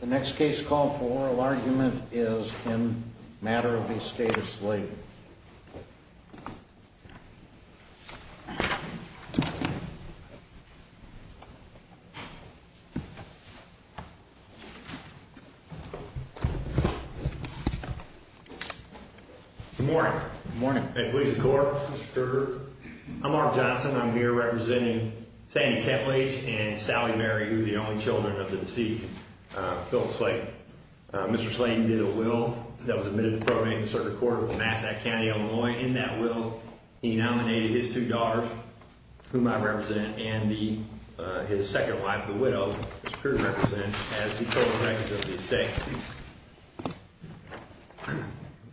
The next case call for oral argument is in matter of the State of Slayden. Good morning. Good morning. I'm Mark Johnson. I'm here representing Sandy Phillips. Like Mr Slayden did a will that was admitted to probate the circuit court of Massachusetts County, Illinois. In that will, he nominated his two daughters, whom I represent, and the his second wife, the widow.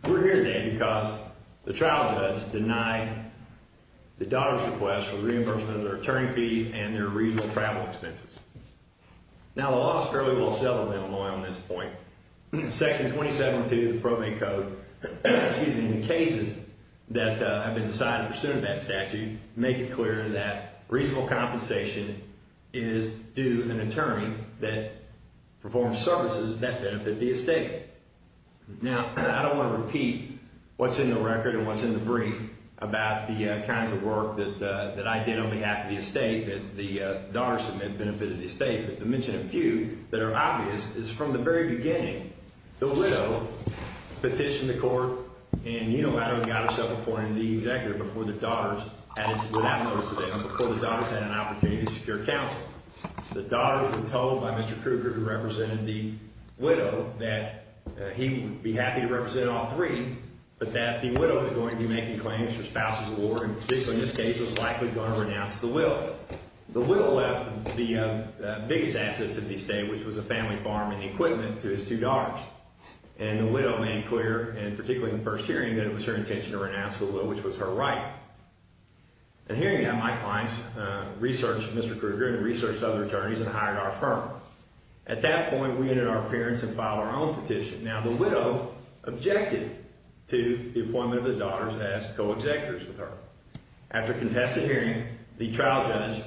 We're here today because the trial judge denied the daughter's request for reimbursement of their attorney fees and their reasonable travel expenses. Now, the law is fairly well settled in Illinois on this point. Section 27-2 of the Probate Code, in the cases that have been decided in pursuit of that statute, make it clear that reasonable compensation is due an attorney that performs services that benefit the estate. Now, I don't want to repeat what's in the record and what's in the brief about the kinds of work that that I did on behalf of the estate, that the daughter submitted benefit of the estate, but to mention a few that are obvious is from the very beginning, the widow petitioned the court and you know how he got himself appointed the executive before the daughters had an opportunity to secure counsel. The daughters were told by Mr. Krueger, who represented the widow, that he would be happy to represent all three, but that the widow was going to be making claims for spousal reward, and particularly in this case was likely going to renounce the will. The widow left the biggest assets of the estate, which was a family farm and equipment, to his two daughters. And the widow made clear, and particularly in the first hearing, that it was her intention to renounce the will, which was her right. In the hearing, my clients researched Mr. Krueger and researched other attorneys and hired our firm. At that point, we ended our appearance and filed our own petition. Now, the widow objected to the appointment of the co-executives with her. After a contested hearing, the trial judge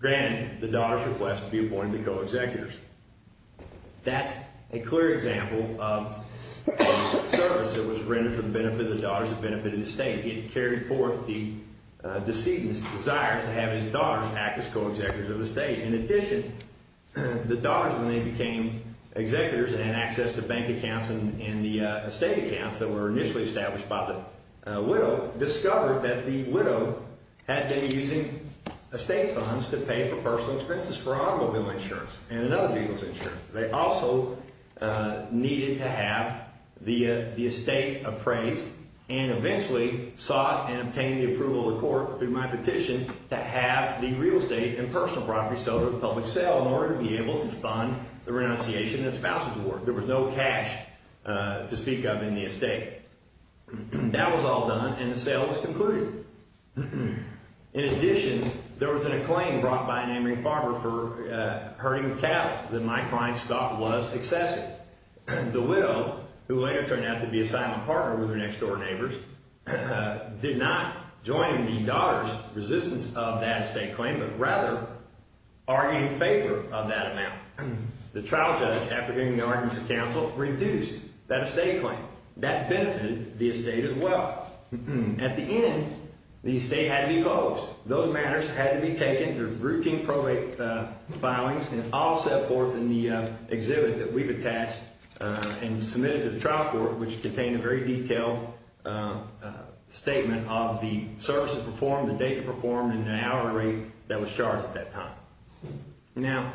granted the daughter's request to be appointed the co-executives. That's a clear example of a service that was rendered for the benefit of the daughters, the benefit of the estate. It carried forth the decedent's desire to have his daughters act as co-executives of the estate. In addition, the daughters, when they became executives and had access to bank accounts and the estate accounts that were initially established by the widow, discovered that the widow had been using estate funds to pay for personal expenses for automobile insurance and another vehicle's insurance. They also needed to have the estate appraised and eventually sought and obtained the approval of the court through my petition to have the real estate and personal property sold at a public sale in order to be able to fund the renunciation and the spouse's work. There was no cash to speak of in the estate. That was all done and the sale was concluded. In addition, there was a claim brought by an neighboring farmer for herding calf that my clients thought was excessive. The widow, who later turned out to be a silent partner with her next door neighbors, did not join the daughter's resistance of that estate claim, but rather argued in favor of that amount. The trial judge, after hearing the arguments of counsel, reduced that estate claim. That benefited the estate as well. At the end, the estate had to be closed. Those matters had to be taken, the routine probate filings, and all set forth in the exhibit that we've attached and submitted to the trial court, which contained a very detailed statement of the services performed, the date performed, and the hour rate that was charged at that time. Now,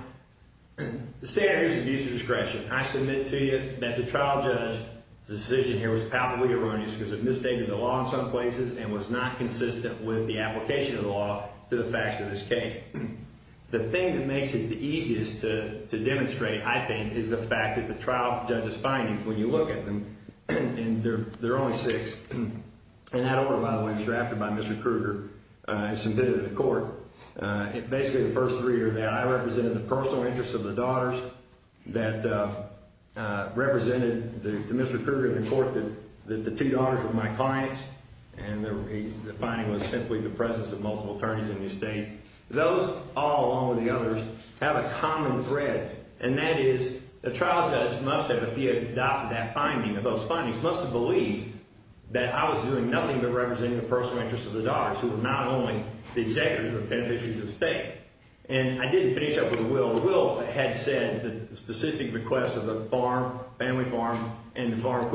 the standard is abuse of discretion. I submit to you that the trial judge's decision here was palpably erroneous because it stated the law in some places and was not consistent with the application of the law to the facts of this case. The thing that makes it the easiest to demonstrate, I think, is the fact that the trial judge's findings, when you look at them, and they're only six, and that order, by the way, was drafted by Mr. Krueger and submitted to the court. Basically, the first three are that I represented the personal interests of the daughters, that represented to Mr. Krueger the daughters of my clients, and the finding was simply the presence of multiple attorneys in these states. Those, all along with the others, have a common thread, and that is the trial judge must have, if he adopted that finding, of those findings, must have believed that I was doing nothing but representing the personal interests of the daughters, who were not only the executors, but the beneficiaries of the estate. And I didn't finish up with Will. Will had said that the specific request of the farm, family farm, and the farm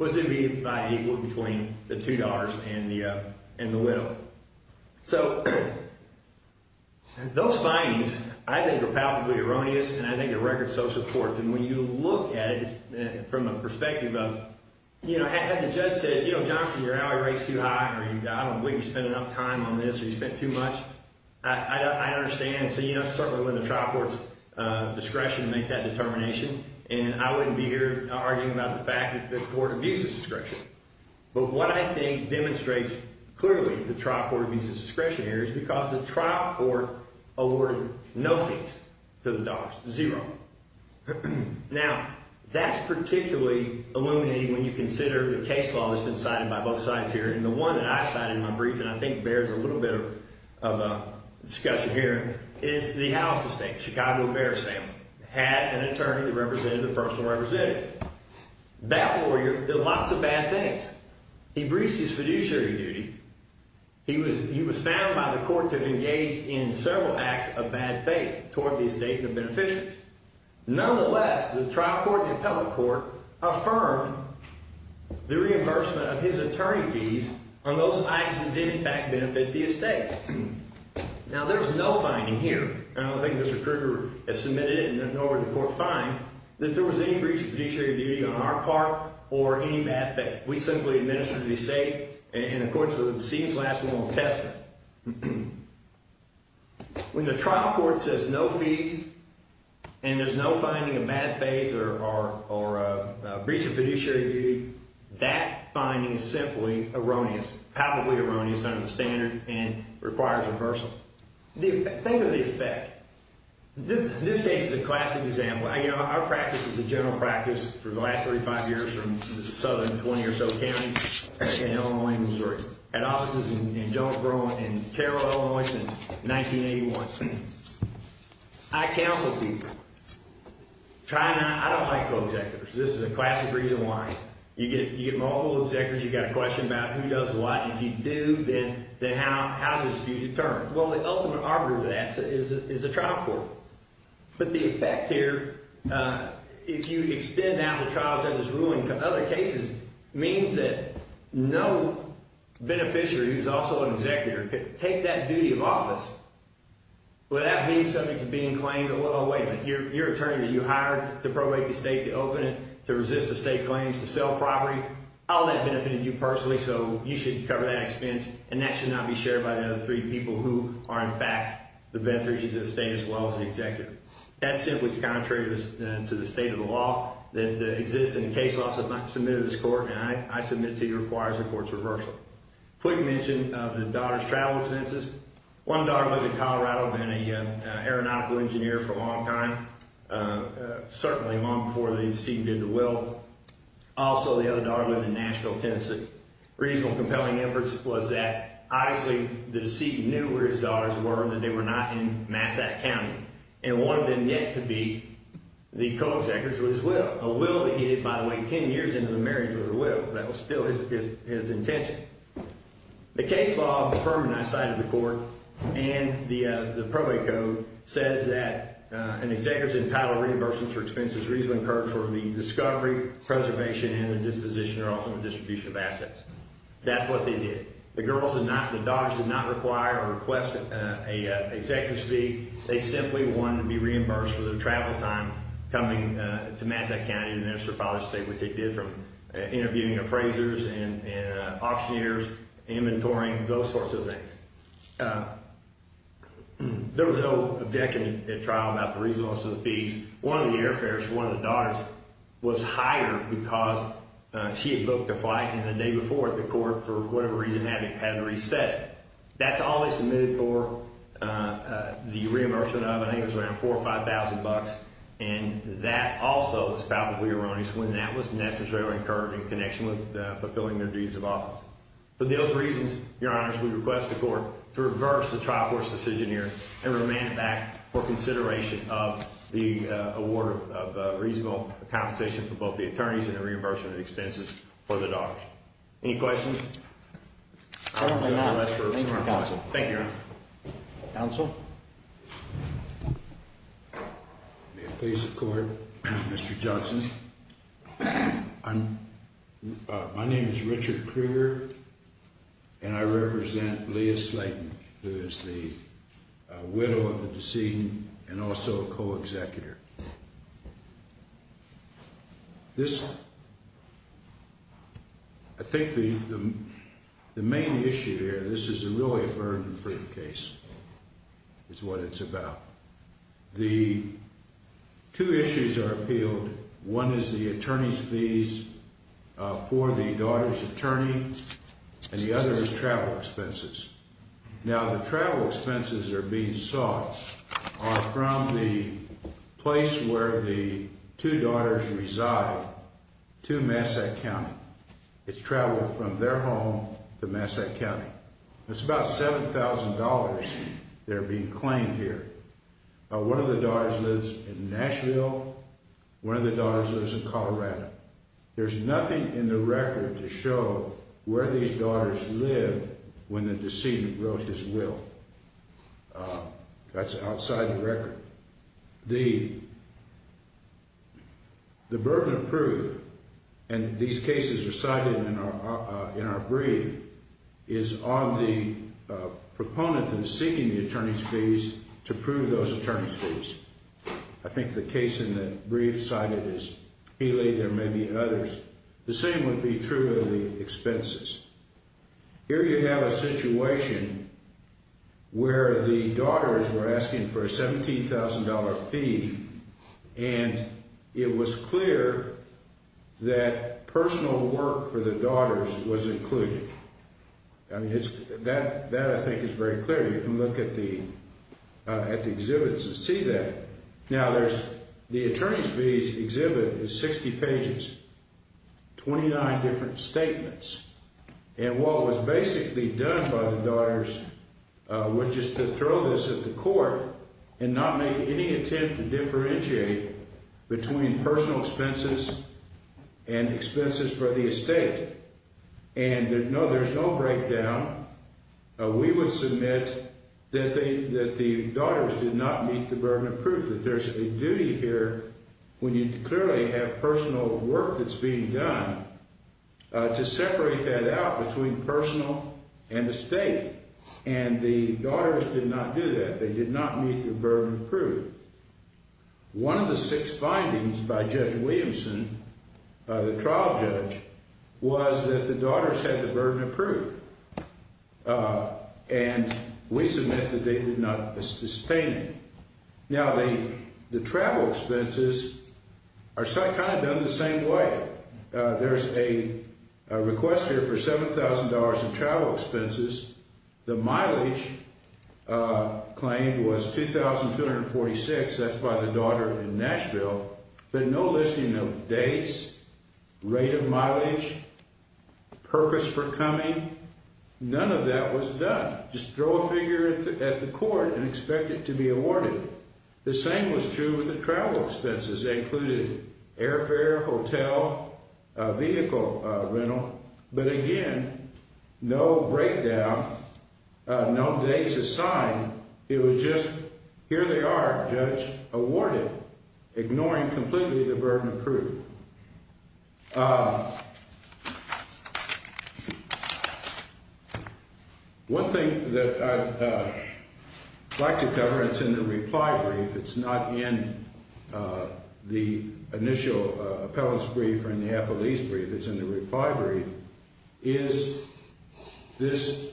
was to be by equal between the two daughters and the Will. So, those findings, I think, are palpably erroneous, and I think the record so supports. And when you look at it from a perspective of, you know, had the judge said, you know, Johnston, your hourly rate's too high, or I don't believe you spent enough time on this, or you spent too much, I understand. So, you know, it's certainly within the trial court's discretion to make that decision. It's certainly within the trial court of visa discretion. But what I think demonstrates clearly the trial court of visa discretion here is because the trial court awarded no fees to the daughters, zero. Now, that's particularly illuminating when you consider the case law that's been cited by both sides here. And the one that I cited in my brief, and I think bears a little bit of a discussion here, is the house estate, Chicago Bear Assembly, had an attorney that represented the personal representative. That lawyer did lots of bad things. He breached his fiduciary duty. He was found by the court to have engaged in several acts of bad faith toward the estate and the beneficiaries. Nonetheless, the trial court and the appellate court affirmed the reimbursement of his attorney fees on those acts that did, in fact, benefit the estate. Now, there's no finding here, and I don't think Mr. Kruger has found that there was any breach of fiduciary duty on our part or any bad faith. We simply administered the estate, and of course, the scene's last one was testament. When the trial court says no fees and there's no finding of bad faith or breach of fiduciary duty, that finding is simply erroneous, probably erroneous under the standard and requires reversal. Think of the effect. This case is a classic example. Our practice is a general practice for the last 35 years from the southern 20 or so counties, Illinois and Missouri. I had offices in Jonesboro and Carroll, Illinois, since 1981. I counsel people. I don't like co-executives. This is a classic reason why. You get multiple executives. You've got a question about who does what. If you do, then how is the dispute determined? Well, the ultimate arbiter of that is the trial court. But the effect here, if you extend out the trial judge's ruling to other cases, means that no beneficiary, who's also an executor, could take that duty of office without being subject to being claimed. Oh, wait a minute. Your attorney that you hired to probate the estate, to open it, to resist the estate claims, to sell property, all that benefited you personally, so you should cover that expense, and that should not be shared by the other three people who are, in fact, the beneficiaries of the estate as well as the executor. That's simply contrary to the state of the law that exists in the case law submitted to this court, and I submit to you requires the court's reversal. Quick mention of the daughter's travel expenses. One daughter lives in Colorado, been an aeronautical engineer for a long time, certainly long before they seemed in the will. Also, the other daughter lives in Nashville, Tennessee. Reasonable, compelling evidence was that, obviously, the deceit knew where his daughters were and that they were not in Massack County. And one of them yet to be, the co-executor, was his widow. A widow that he dated, by the way, ten years into the marriage with her widow. That was still his intention. The case law firm that I cited to the court and the probate code says that an executor's entitled reimbursement for expenses reasonably incurred for the discovery, preservation, and the disposition of assets. That's what they did. The girls did not, the daughters did not require or request an executive's fee. They simply wanted to be reimbursed for their travel time coming to Massack County, and that's their father's state, which they did from interviewing appraisers and auctioneers, inventorying, those sorts of things. There was no objection at trial about the reasonableness of the fees. One of the airfarers, one of the daughters, was hired because she booked a flight, and the day before, the court, for whatever reason, had to reset it. That's all they submitted for the reimbursement of. I think it was around four or five thousand bucks, and that also was palpably erroneous when that was necessarily incurred in connection with fulfilling their duties of office. For those reasons, your honors, we request the court to reverse the trial court's decision here and remand it back for consideration of the award of reasonable compensation for both the attorneys and the reimbursement expenses for the daughter. Any questions? Thank you, Your Honor. Counsel? May it please the court, Mr. Johnson. I'm my name is Richard Krieger, and I represent Leah Slayton, who is the widow of the decedent and also a co-executor. This I think the the main issue here, this is a really a burden-free case, is what it's about. The two issues are appealed. One is the attorney's fees for the daughter's attorney, and the other is travel expenses. Now, the travel expenses that are being sought are from the place where the two daughters reside, two Massack County. It's traveled from their home to Massack County. It's about $7,000 that are being claimed here. One of the daughters lives in Nashville. One of the daughters lives in Colorado. There's nothing in the record to show where these daughters live when the decedent wrote his will. That's outside the record. The burden of proof, and these cases are cited in our brief, is on the proponent that is seeking the attorney's fees to prove those attorney's fees. I think the case in the brief cited is Healy. There may be others. The same would be true of the expenses. Here you have a situation where the daughters were asking for a $17,000 fee, and it was clear that personal work for the daughters was included. I mean, that I think is very clear. You can look at the exhibits and see that. Now, the attorney's fees exhibit is 60 pages, 29 different statements, and what was basically done by the daughters was just to throw this at the court and not make any attempt to differentiate between personal expenses and expenses for the estate. And no, there's no breakdown. We would submit that the daughters did not meet the burden of proof, that there's a duty here when you clearly have personal work that's being done to separate that out between personal and the state. And the daughters did not do that. They did not meet the burden of proof. One of the six findings by Judge Williamson, the trial judge, was that the daughters had the burden of proof, and we submit that they did not sustain it. Now, the travel expenses are kind of done the same way. There's a request here for $7,000 in travel expenses. The mileage claimed was $2,246. That's by the daughter in Nashville, but no listing of dates, rate of mileage, purpose for coming, none of that was done. Just throw a figure at the court and expect it to be awarded. The same was true with the travel expenses. They included airfare, hotel, vehicle rental, but again, no breakdown, no dates assigned. It was just here they are, judge, awarded, ignoring completely the burden of proof. One thing that I'd like to cover, and it's in the reply brief, it's not in the initial appellant's brief or in the appellee's brief, it's in the reply brief, is this.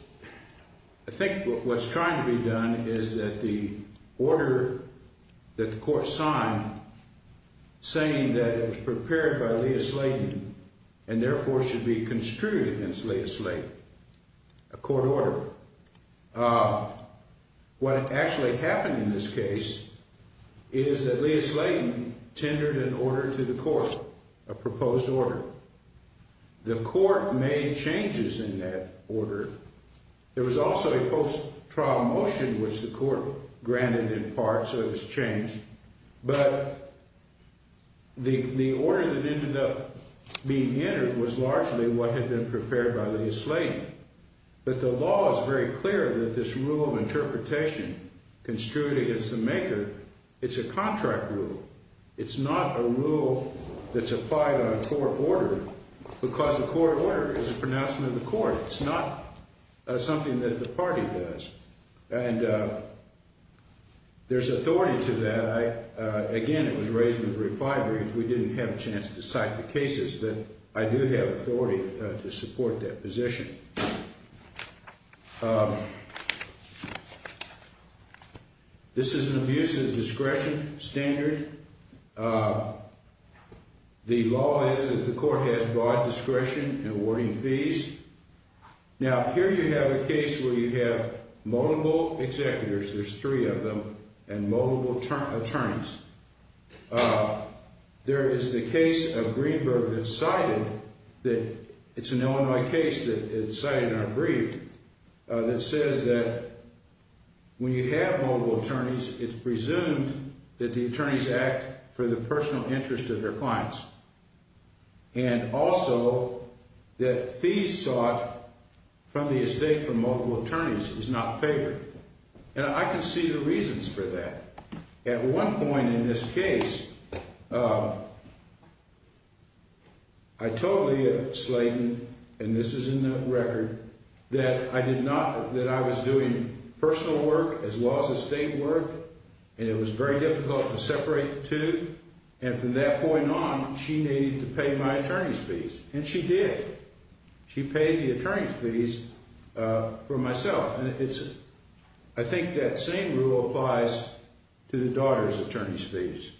I think what's trying to be done is that the order that the court signed, saying that it was prepared by Leah Slayton and therefore should be construed against Leah Slayton, a court order. What actually happened in this case is that Leah Slayton tendered an order to the court, a proposed order. The court made changes in that order. There was also a post-trial motion which the court granted in part, so it was changed, but the order that ended up being entered was largely what had been prepared by Leah Slayton. But the law is very clear that this rule of interpretation construed against the maker, it's a contract rule. It's not a rule that's applied on a court order because the court order is a pronouncement of the court. It's not something that the party does. And there's authority to that. Again, it was raised in the reply brief. We didn't have a chance to cite the cases, but I do have authority to support that position. This is an abuse of discretion standard. The law is that the court has broad discretion in awarding fees. Now, here you have a case where you have multiple executors, there's three of them, and multiple attorneys. There is the case of Greenberg that cited that it's an Illinois case that cited in our brief that says that when you have multiple attorneys, it's presumed that the attorneys act for the personal interest of their clients. And also that fees sought from the estate for multiple attorneys is not favored. And I can see the reasons for that. At one point in this case, uh, I totally Slayton. And this is in the record that I did not that I was doing personal work as well as the state work. And it was very difficult to separate the two. And from that point on, she needed to pay my attorney's fees. And she did. She paid the attorney's fees for myself. And it's I think that same rule applies to the daughter's attorney's fees.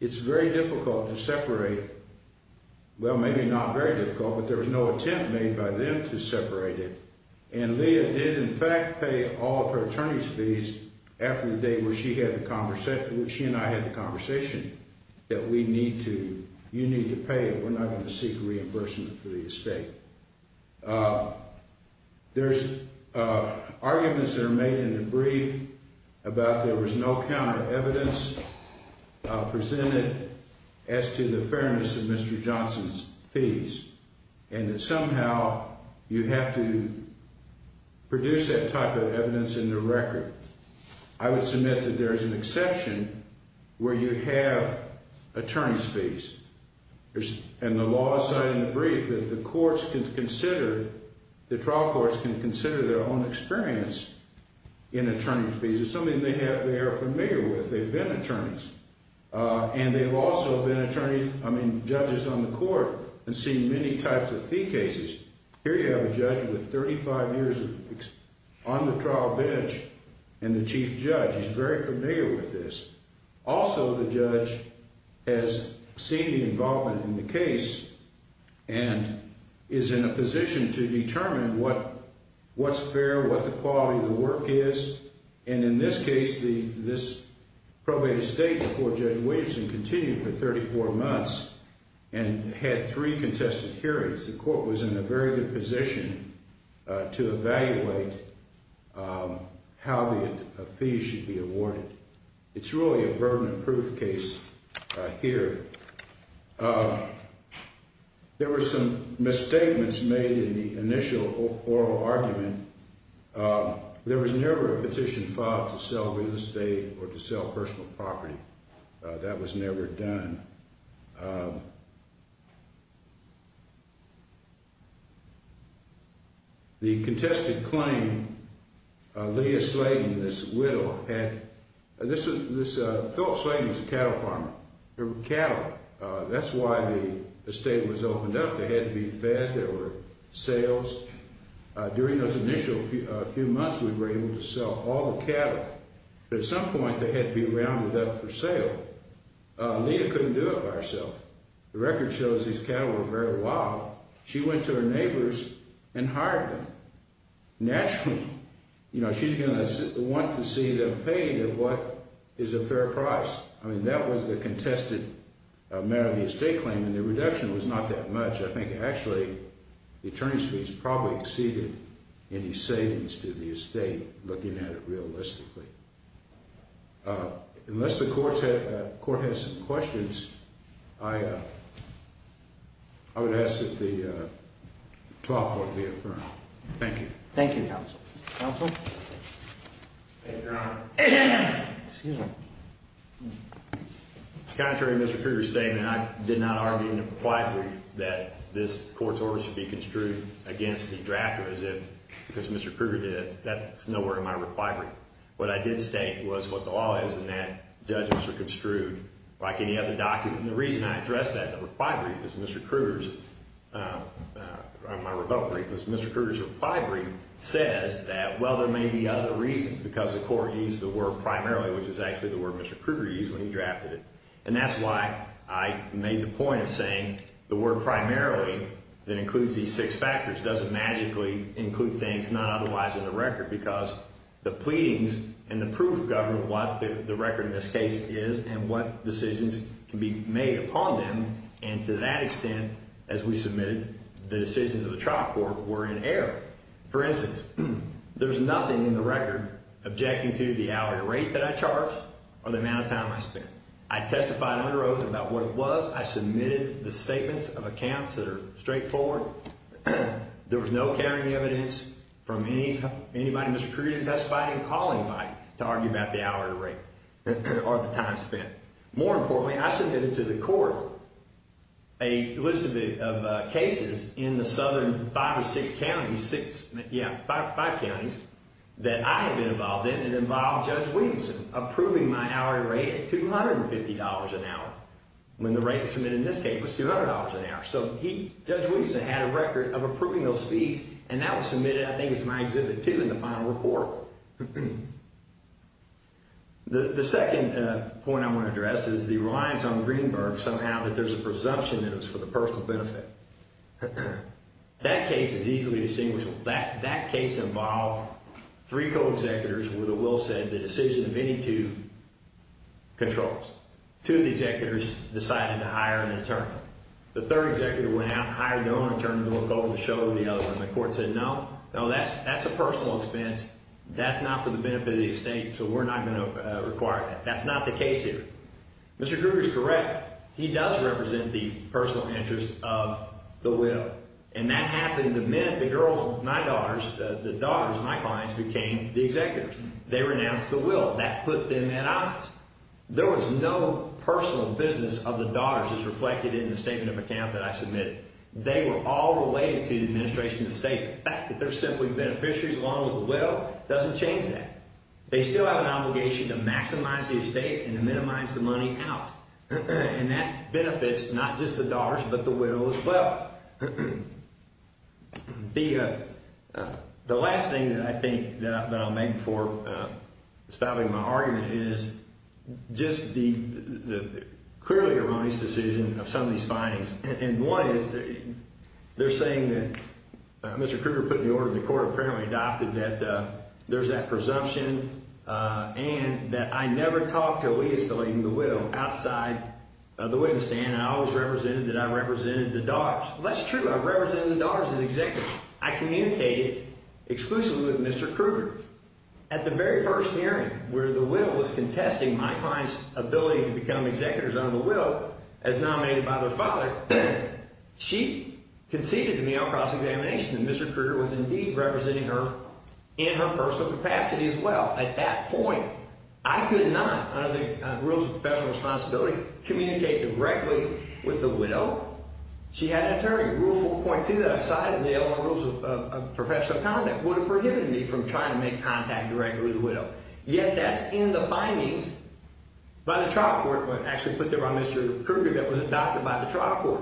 It's very difficult to separate. Well, maybe not very difficult, but there was no attempt made by them to separate it. And Leah did, in fact, pay all of her attorney's fees after the day where she had a conversation with she and I had a conversation that we need to. You need to pay. We're not going to seek reimbursement for the estate. Uh, there's, uh, arguments that are made in the brief about there was no counter evidence presented as to the fairness of Mr Johnson's fees, and somehow you have to produce that type of evidence in the record. I would submit that there is an exception where you have attorney's fees and the brief that the courts could consider. The trial courts can consider their own experience in attorney's fees is something they have. They're familiar with. They've been attorneys, and they've also been attorneys. I mean, judges on the court and see many types of fee cases. Here you have a judge with 35 years on the trial bench, and the chief judge is very familiar with this. Also, the judge has seen the involvement in the case and is in a position to determine what what's fair, what the quality of the work is. And in this case, the this probate estate before Judge Williamson continued for 34 months and had three contested hearings. The court was in a very good to evaluate how the fees should be awarded. It's really a burden of proof case here. Uh, there were some misstatements made in the initial oral argument. There was never a petition filed to sell real estate or to sell personal property. That was never done. The contested claim, uh, Leah Sladen, this widow had this. This, uh, Phil Sladen's cattle farmer cattle. That's why the state was opened up. They had to be fed. There were sales during those initial few months we were able to sell all the cattle. At some point, they had to be rounded up for sale. Uh, we couldn't do it by herself. The record shows these cattle were allowed. She went to her neighbors and hired them. Naturally, you know, she's gonna want to see the pain of what is a fair price. I mean, that was the contested matter of the estate claim, and the reduction was not that much. I think, actually, the attorney's fees probably exceeded any savings to the estate. Looking at it realistically, uh, unless the court court has some questions, I would ask that the top would be affirmed. Thank you. Thank you, Council Council. Contrary. Mr. Kruger statement. I did not argue in the reply brief that this court order should be construed against the drafter as if because Mr Kruger did, that's nowhere in my reply brief. What I did state was what the law is and that judges were construed like any other document. The reason I address that reply brief is Mr Kruger's, uh, my rebuttal brief was Mr Kruger's reply brief says that, well, there may be other reasons because the court used the word primarily, which is actually the word Mr Kruger used when he drafted it. And that's why I made the point of saying the word primarily that includes these six factors doesn't magically include things not otherwise in the record, because the pleadings and the proof of government, what the record in this case is and what decisions can be made upon them. And to that extent, as we submitted, the decisions of the trial court were in error. For instance, there's nothing in the record objecting to the hourly rate that I charged or the amount of time I spent. I testified under oath about what it was. I submitted the statements of accounts that are straightforward. There was no carrying evidence from any anybody. Mr Kruger testifying, calling by to argue about the hour rate or the time spent. More importantly, I submitted to the court a list of cases in the southern five or six counties, six. Yeah, five counties that I have been involved in. It involved Judge Williamson approving my hourly rate at $250 an hour when the rate was submitted in this case was $200 an hour. So he, Judge Williamson had a record of approving those fees and that was submitted. I think it's my exhibit two in the final report. The second point I want to address is the reliance on Greenberg. Somehow that there's a presumption that it was for the personal benefit. That case is easily distinguished. That case involved three co executors with a will said the decision of any two controls to the executors decided to hire an attorney. The third executive went out, hired their own attorney to look over the show. The other one, the court said, No, no, that's that's a personal expense. That's not for the I'm gonna require. That's not the case here. Mr Kruger is correct. He does represent the personal interest of the will, and that happened. The men, the girls, my daughters, the daughters, my clients became the executives. They renounced the will that put them at odds. There was no personal business of the daughters is reflected in the statement of account that I submitted. They were all related to the administration. The state fact that they're simply beneficiaries along with the will doesn't change that. They still have an obligation to maximize the estate and to minimize the money out. And that benefits not just the dollars, but the will as well. The the last thing that I think that I'll make for stopping my argument is just the clearly erroneous decision of some of these findings. And one is that they're saying that Mr Kruger put the order in the court apparently adopted that there's that presumption on that. I never talked to leave selling the will outside the witness stand. I always represented that. I represented the dogs. That's true. I represent the dollars is exactly I communicated exclusively with Mr Kruger at the very first hearing where the will was contesting my client's ability to become executors on the will as nominated by their father. She conceded to me across examination. Mr Kruger was indeed representing her in her personal capacity as well. At that point, I could not under the rules of professional responsibility communicate directly with the widow. She had a terrible point to that side of the other rules of professional conduct would have prohibited me from trying to make contact directly with the widow. Yet that's in the findings by the trial court, but actually put there on Mr Kruger that was adopted by the trial court.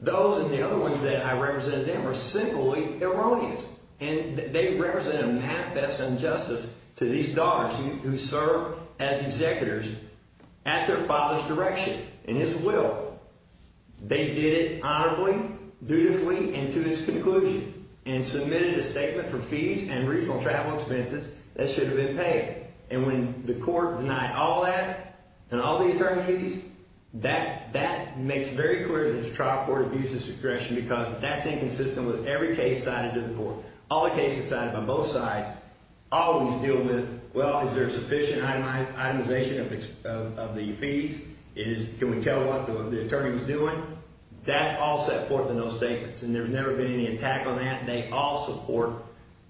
Those and the other ones that I represented there were simply erroneous, and they represent a manifest injustice to these daughters who serve as executors at their father's direction and his will. They did honorably, dutifully and to his conclusion and submitted a statement for fees and regional travel expenses that should have been paid. And when the court denied all that and all the attorneys that that makes very clear that the trial court abuses aggression because that's inconsistent with every case cited to the court. All the cases cited on both sides always deal with. Well, is there sufficient itemization of the fees is can we tell what the attorney was doing? That's all set forth in those statements, and there's never been any attack on that. They all support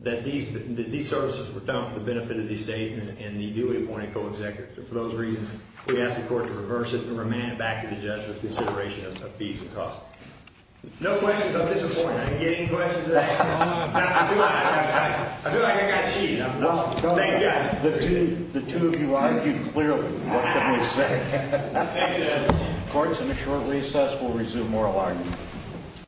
that these these services were done for the benefit of the state and the Dewey appointed co executives. For those reasons, we asked the court to reverse it and remand back to the judge with consideration of fees and costs. No questions. I'm disappointed getting questions. I feel like I got cheated. The two of you argued clearly. What can we say? Courts in a short recess will resume moral argument.